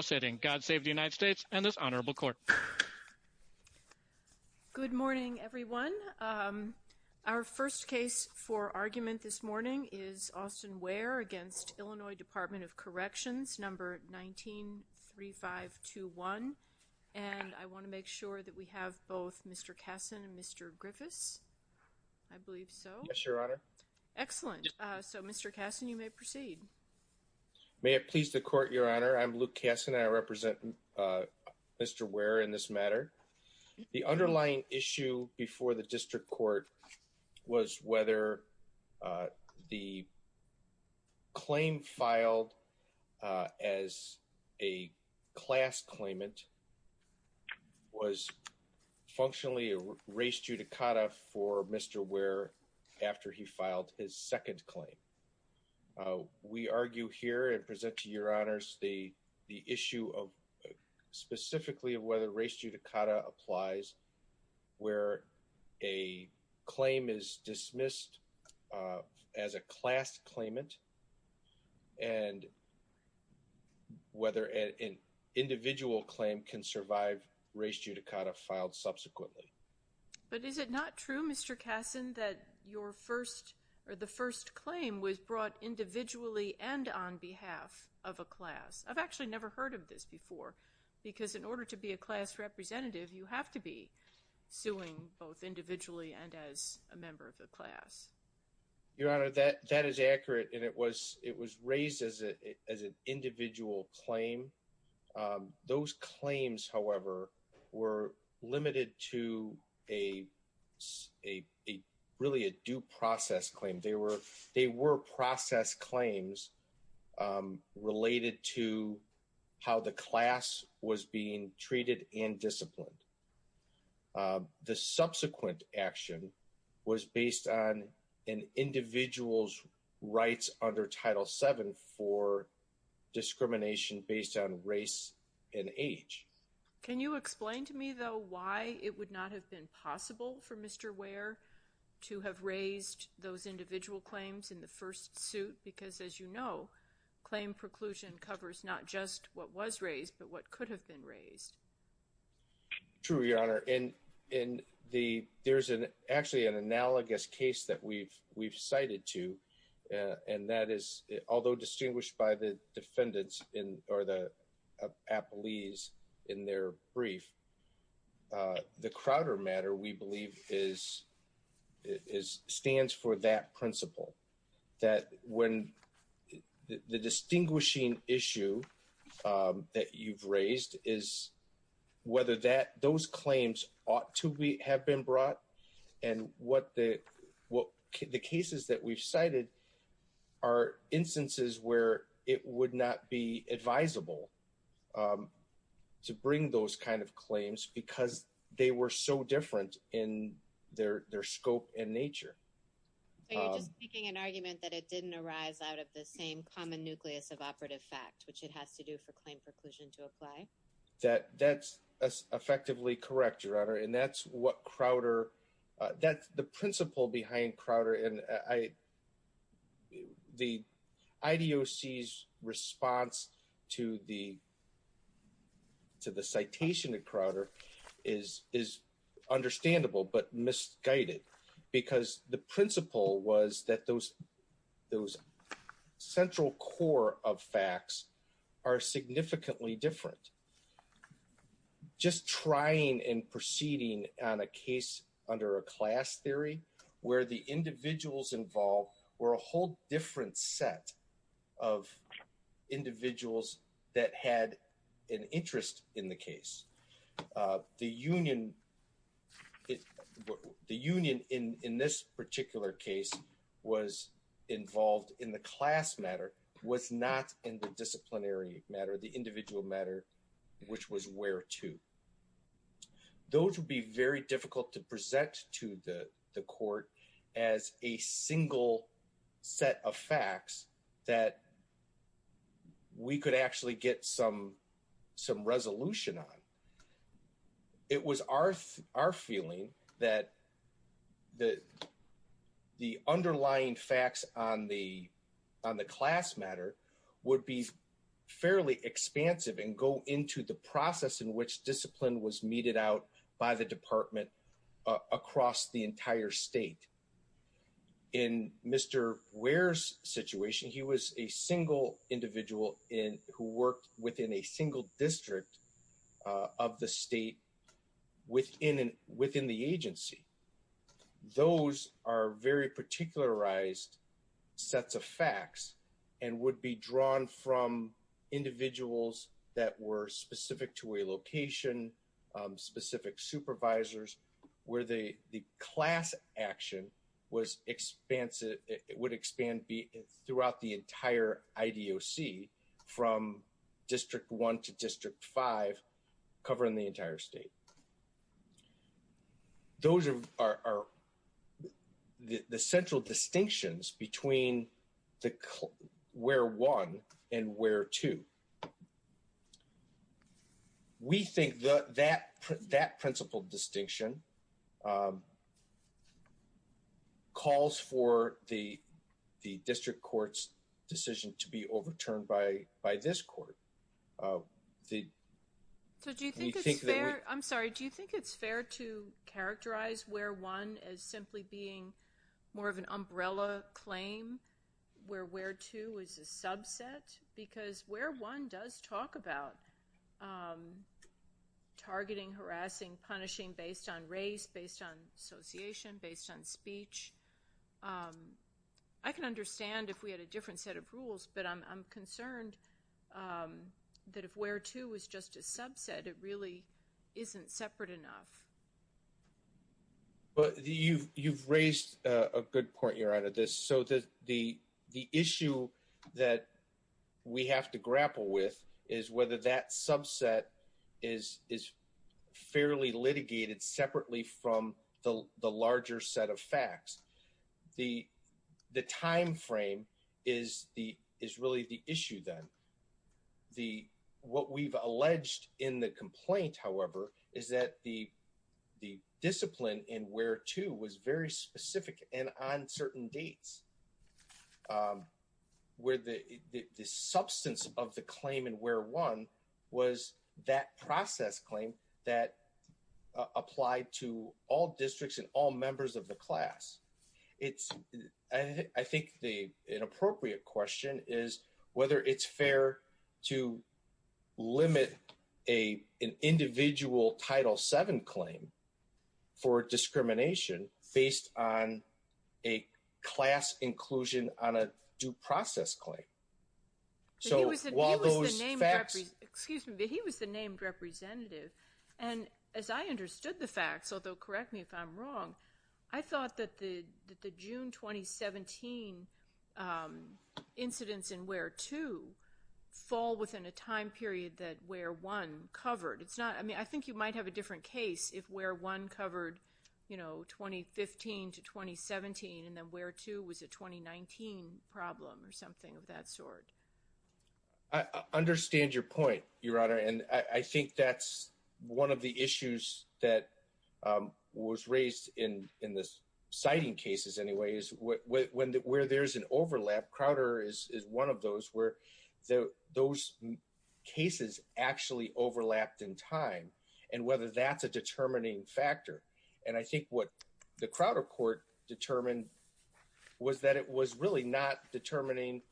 193521, and I want to make sure that we have both Mr. Kassen and Mr. Griffiss I believe so. Yes, your honor. Excellent. So Mr. Kassen, you may proceed. May it please the court, your honor, I'm Luke Kassen and I represent Mr. Ware in this matter. The underlying issue before the district court was whether the claim filed as a class claimant was functionally a race judicata for Mr. Ware after he filed his second claim. We argue here and present to your honors the issue of specifically of whether race judicata applies where a claim is dismissed as a class claimant and whether an individual claim can survive race judicata filed subsequently. But is it not true, Mr. Kassen, that your first or the first claim was brought individually and on behalf of a class? I've actually never heard of this before because in order to be a class representative, you have to be suing both individually and as a member of the class. Your honor, that that is accurate and it was it was raised as a as an individual claim. Those claims, however, were limited to a a a really a due process claim. They were they were process claims related to how the class was being treated and disciplined. The subsequent action was based on an individual's rights under Title VII for discrimination based on race and age. Can you explain to me, though, why it would not have been possible for Mr. Ware to have raised those individual claims in the first suit? Because as you know, claim preclusion covers not just what was raised, but what could have been raised. True, your honor, and in the there's an actually an analogous case that we've we've cited to and that is, although distinguished by the defendants in or the appellees in their brief. The Crowder matter, we believe, is is stands for that principle that when the distinguishing issue that you've raised is whether that those claims ought to be have been brought and what the what the cases that we've cited are instances where it would not be advisable to bring those kind of claims because they were so different in their their scope and nature. So you're just making an argument that it didn't arise out of the same common nucleus of operative fact, which it has to do for claim preclusion to apply? That that's effectively correct, your honor, and that's what Crowder that the principle behind Crowder and I. The IDOC's response to the. To the citation at Crowder is is understandable, but misguided because the principle was that those those central core of facts are significantly different. Just trying and proceeding on a case under a class theory where the individuals involved were a whole different set of individuals that had an interest in the case. The union. The union in this particular case was involved in the class matter, was not in the disciplinary matter, the individual matter, which was where to. Those would be very difficult to present to the court as a single set of facts that. We could actually get some some resolution on. It was our our feeling that. The. The underlying facts on the on the class matter would be fairly expansive and go into the process in which discipline was meted out by the department across the entire state. In Mr. Ware's situation, he was a single individual in who worked within a single district of the state within within the agency. Those are very particularized sets of facts and would be drawn from individuals that were calls for the the district court's decision to be overturned by by this court. So do you think it's fair? I'm sorry. Do you think it's fair to characterize where one is simply being more of an umbrella claim where where to is a subset because where one does talk about targeting, harassing, punishing based on race, based on association, based on speech. I can understand if we had a different set of rules, but I'm concerned that if where to is just a subset, it really isn't separate enough. But you've raised a good point here out of this, so that the the issue that we have to from the larger set of facts, the the time frame is the is really the issue that the what we've alleged in the complaint, however, is that the the discipline in where to was very specific and on certain dates where the the substance of the claim and where one was that process claim that applied to all districts and all members of the class. It's I think the inappropriate question is whether it's fair to limit a an individual Title VII claim for discrimination based on a class inclusion on a due process claim. So while those facts, excuse me, but he was the named representative and as I understood the facts, although correct me if I'm wrong, I thought that the the June 2017 incidents in where to fall within a time period that where one covered. It's not, I mean, I think you might have a different case if where one covered, you know, 2015 to 2017 and then where to was a 2019 problem or something of that sort. I understand your point, Your Honor, and I think that's one of the issues that was raised in in this citing cases. Anyways, where there's an overlap, Crowder is one of those where those cases actually overlapped in time and whether that's a determining factor. And I think what the Crowder court determined was that it was really not determining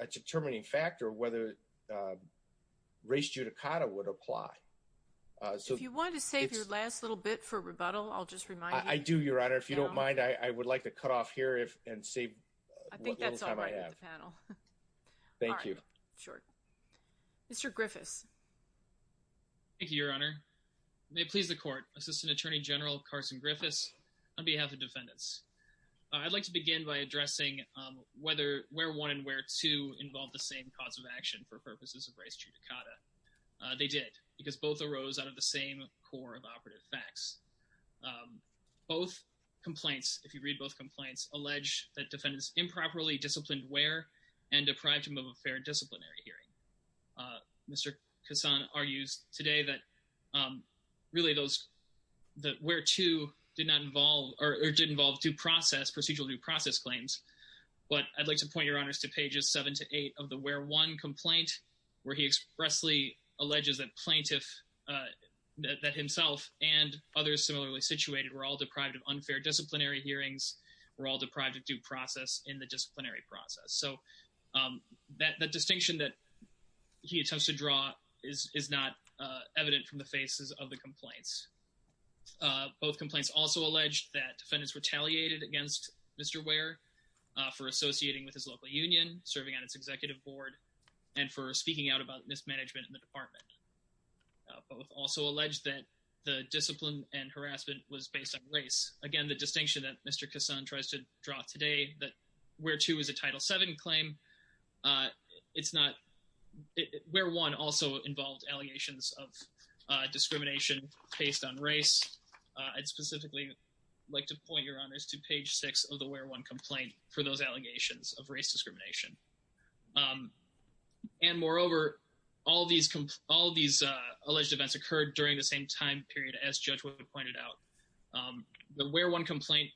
a determining factor whether race judicata would apply. So if you want to save your last little bit for rebuttal, I'll just remind you. I do, Your Honor. If you don't mind, I would like to cut off here if and save. I think that's all right panel. Thank you. Sure. Mr. Griffiths. Thank you, Your Honor. May it please the court. Assistant Attorney General Carson Griffiths on behalf of defendants. I'd like to begin by addressing whether where one and where two involve the same cause of action for purposes of race judicata. They did because both arose out of the same core of operative facts. Both complaints, if you read both complaints, allege that defendants improperly disciplined where and deprived him of a fair disciplinary hearing. Mr. Kassan argues today that really those that where two did not involve or did involve due process procedural due process claims. But I'd like to point your honors to pages seven to eight of the where one complaint where he expressly alleges that plaintiff that himself and others similarly situated were all deprived of unfair disciplinary hearings were all deprived of due process in the disciplinary process. So that distinction that he attempts to draw is not evident from the faces of the complaints. Both complaints also alleged that defendants retaliated against Mr. Where for associating with his local union serving on its executive board and for speaking out about mismanagement in the department. Both also alleged that the discipline and where two is a title seven claim. It's not where one also involved allegations of discrimination based on race. I'd specifically like to point your honors to page six of the where one complaint for those allegations of race discrimination. And moreover, all these all these alleged events occurred during the same time period as Judge Wood pointed out. The where one complaint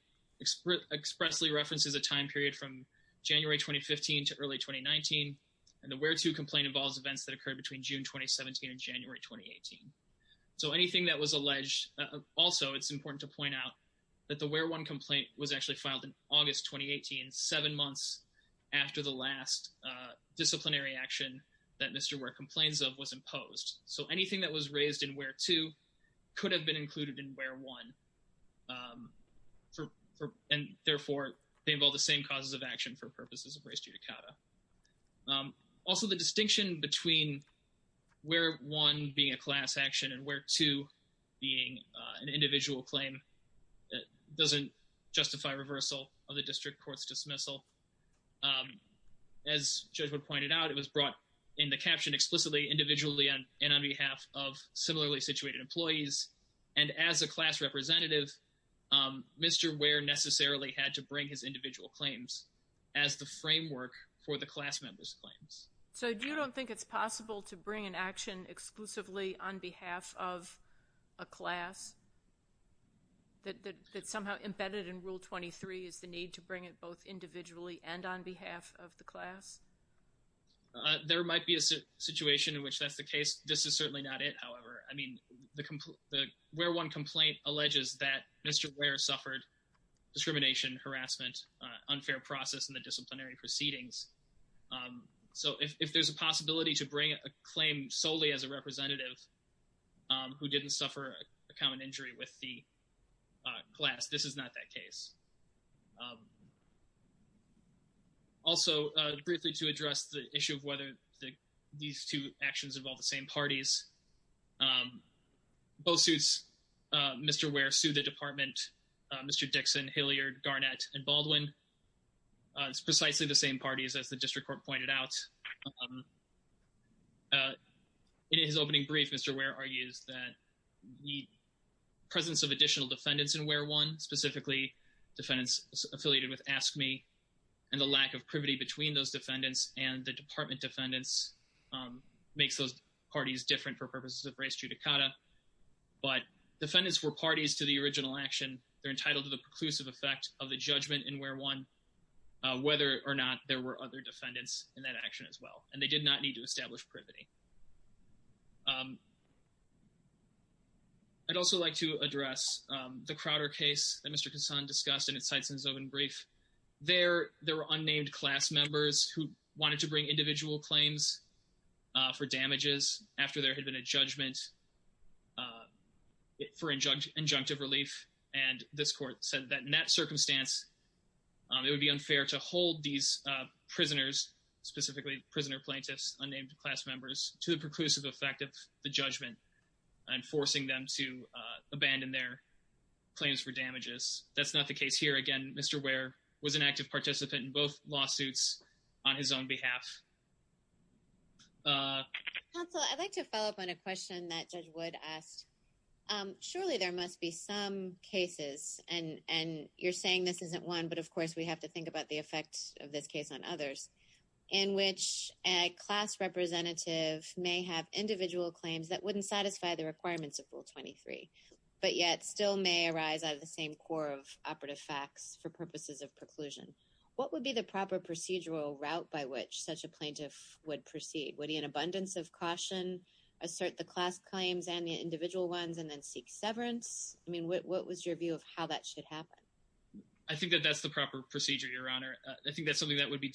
expressly references a time period from January 2015 to early 2019. And the where to complain involves events that occurred between June 2017 and January 2018. So anything that was alleged, also, it's important to point out that the where one complaint was actually filed in August 2018, seven months after the last disciplinary action that Mr. Where complains of was imposed. So and therefore, they involve the same causes of action for purposes of race judicata. Also, the distinction between where one being a class action and where two being an individual claim doesn't justify reversal of the district court's dismissal. As Judge Wood pointed out, it was brought in the caption explicitly individually and on behalf of similarly had to bring his individual claims as the framework for the class members claims. So you don't think it's possible to bring an action exclusively on behalf of a class that somehow embedded in rule 23 is the need to bring it both individually and on behalf of the class? There might be a situation in which that's the case. This is certainly not it. However, I discrimination, harassment, unfair process in the disciplinary proceedings. So if there's a possibility to bring a claim solely as a representative who didn't suffer a common injury with the class, this is not that case. Also, briefly to address the issue of whether these two actions of all the same parties, um, both suits, Mr. Ware sued the department, Mr. Dixon, Hilliard, Garnett, and Baldwin. It's precisely the same parties as the district court pointed out. In his opening brief, Mr. Ware argues that the presence of additional defendants in where one, specifically defendants affiliated with Ask Me, and the lack of privity between those defendants and the department defendants, um, makes those parties different for purposes of race judicata. But defendants were parties to the original action. They're entitled to the preclusive effect of the judgment in where one, uh, whether or not there were other defendants in that action as well. And they did not need to establish privity. Um, I'd also like to address, um, the Crowder case that Mr. Kassan discussed in his opening brief. There, there were unnamed class members who wanted to bring individual claims, uh, for damages after there had been a judgment, uh, for injunctive relief. And this court said that in that circumstance, um, it would be unfair to hold these, uh, prisoners, specifically prisoner plaintiffs, unnamed class members, to the preclusive effect of the judgment and forcing them to, uh, abandon their claims for damages. That's not the case here. Again, Mr. Ware was an active participant in both lawsuits on his own behalf. Uh... Counsel, I'd like to follow up on a question that Judge Wood asked. Um, surely there must be some cases, and, and you're saying this isn't one, but of course, we have to think about the effects of this case on others, in which a class representative may have individual claims that wouldn't satisfy the requirements of Rule 23, but yet still may arise out of the same core of operative facts for purposes of preclusion. What would be the proper procedural route by which such a plaintiff would proceed? Would he, in abundance of caution, assert the class claims and the individual ones and then seek severance? I mean, what, what was your view of how that should happen? I think that that's the proper procedure, Your Honor. I think that's something that would be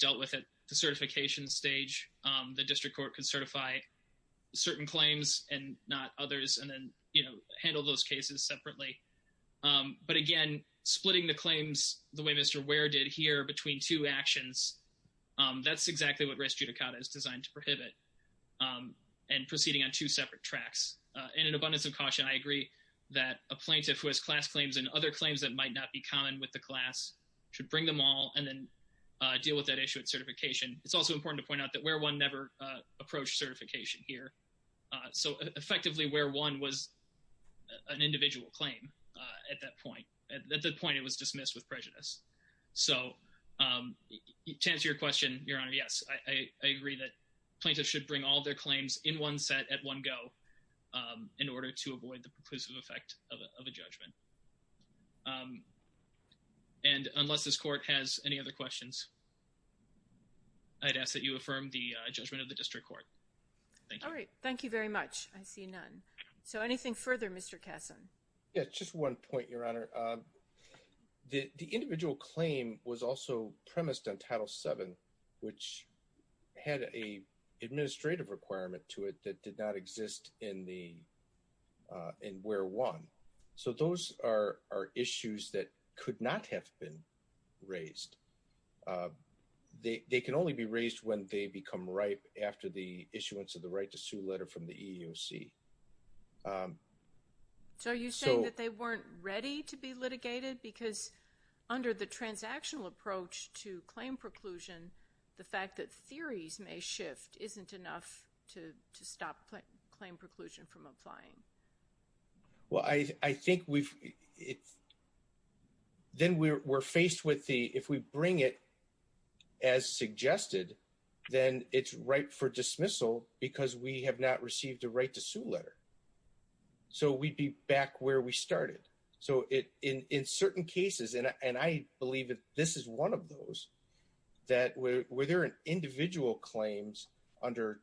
certain claims and not others, and then, you know, handle those cases separately. Um, but again, splitting the claims the way Mr. Ware did here between two actions, um, that's exactly what res judicata is designed to prohibit, um, and proceeding on two separate tracks. Uh, in an abundance of caution, I agree that a plaintiff who has class claims and other claims that might not be common with the class should bring them all and then, uh, deal with that issue at certification. It's also important to point out that Ware 1 never, uh, approached certification here, uh, so effectively, Ware 1 was an individual claim, uh, at that point. At that point, it was dismissed with prejudice. So, um, to answer your question, Your Honor, yes, I, I agree that plaintiffs should bring all their claims in one set at one go, um, in order to avoid the preclusive effect of a judgment. Um, and unless this Court has any other questions, I'd ask that you affirm the, uh, judgment of the District Court. All right. Thank you very much. I see none. So, anything further, Mr. Kasson? Yeah, just one point, Your Honor. Um, the, the individual claim was also premised on Title VII, which had a administrative requirement to it that did not exist in the, uh, in Ware 1. So, those are, are issues that could not have been raised. Uh, they, they can only be raised when they become ripe after the issuance of the right to sue letter from the EEOC. Um, so... So, are you saying that they weren't ready to be litigated? Because under the transactional approach to claim preclusion, the fact that theories may shift isn't enough to, to stop claim preclusion from applying. Well, I, I think we've, it's, then we're, we're faced with the, if we bring it as suggested, then it's ripe for dismissal because we have not received a right to sue letter. So, we'd be back where we started. So, it, in, in certain cases, and I, and I believe that this is one of those, that where, where there are individual claims under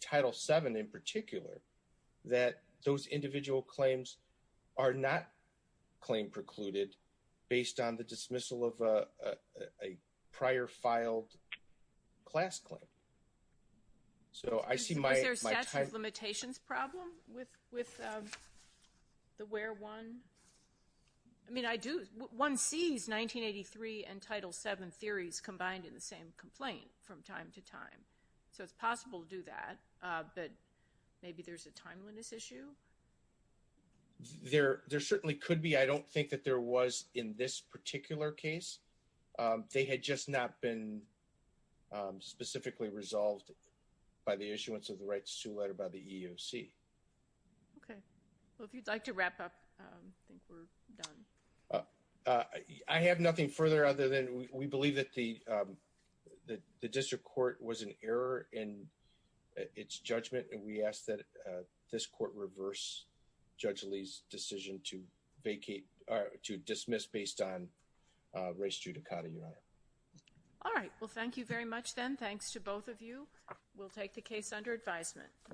Title VII in particular, that those individual claims are not claim precluded based on the dismissal of a, a prior filed class claim. So, I see my... Is there a statute of limitations problem with, with, um, the Ware 1? I mean, I do, one sees 1983 and Title VII theories combined in the same complaint from time to time. So, it's possible to do that, uh, but maybe there's a timeliness issue? There, there certainly could be. I don't think that there was in this particular case. Um, they had just not been, um, specifically resolved by the issuance of the right to sue letter by the EEOC. Okay. Well, if you'd like to wrap up, um, I think we're done. Uh, uh, I have nothing further other than we, we believe that the, um, the, the District Court was in its judgment and we ask that, uh, this court reverse Judge Lee's decision to vacate, uh, to dismiss based on, uh, race judicata, Your Honor. All right. Well, thank you very much then. Thanks to both of you. We'll take the case under advisement.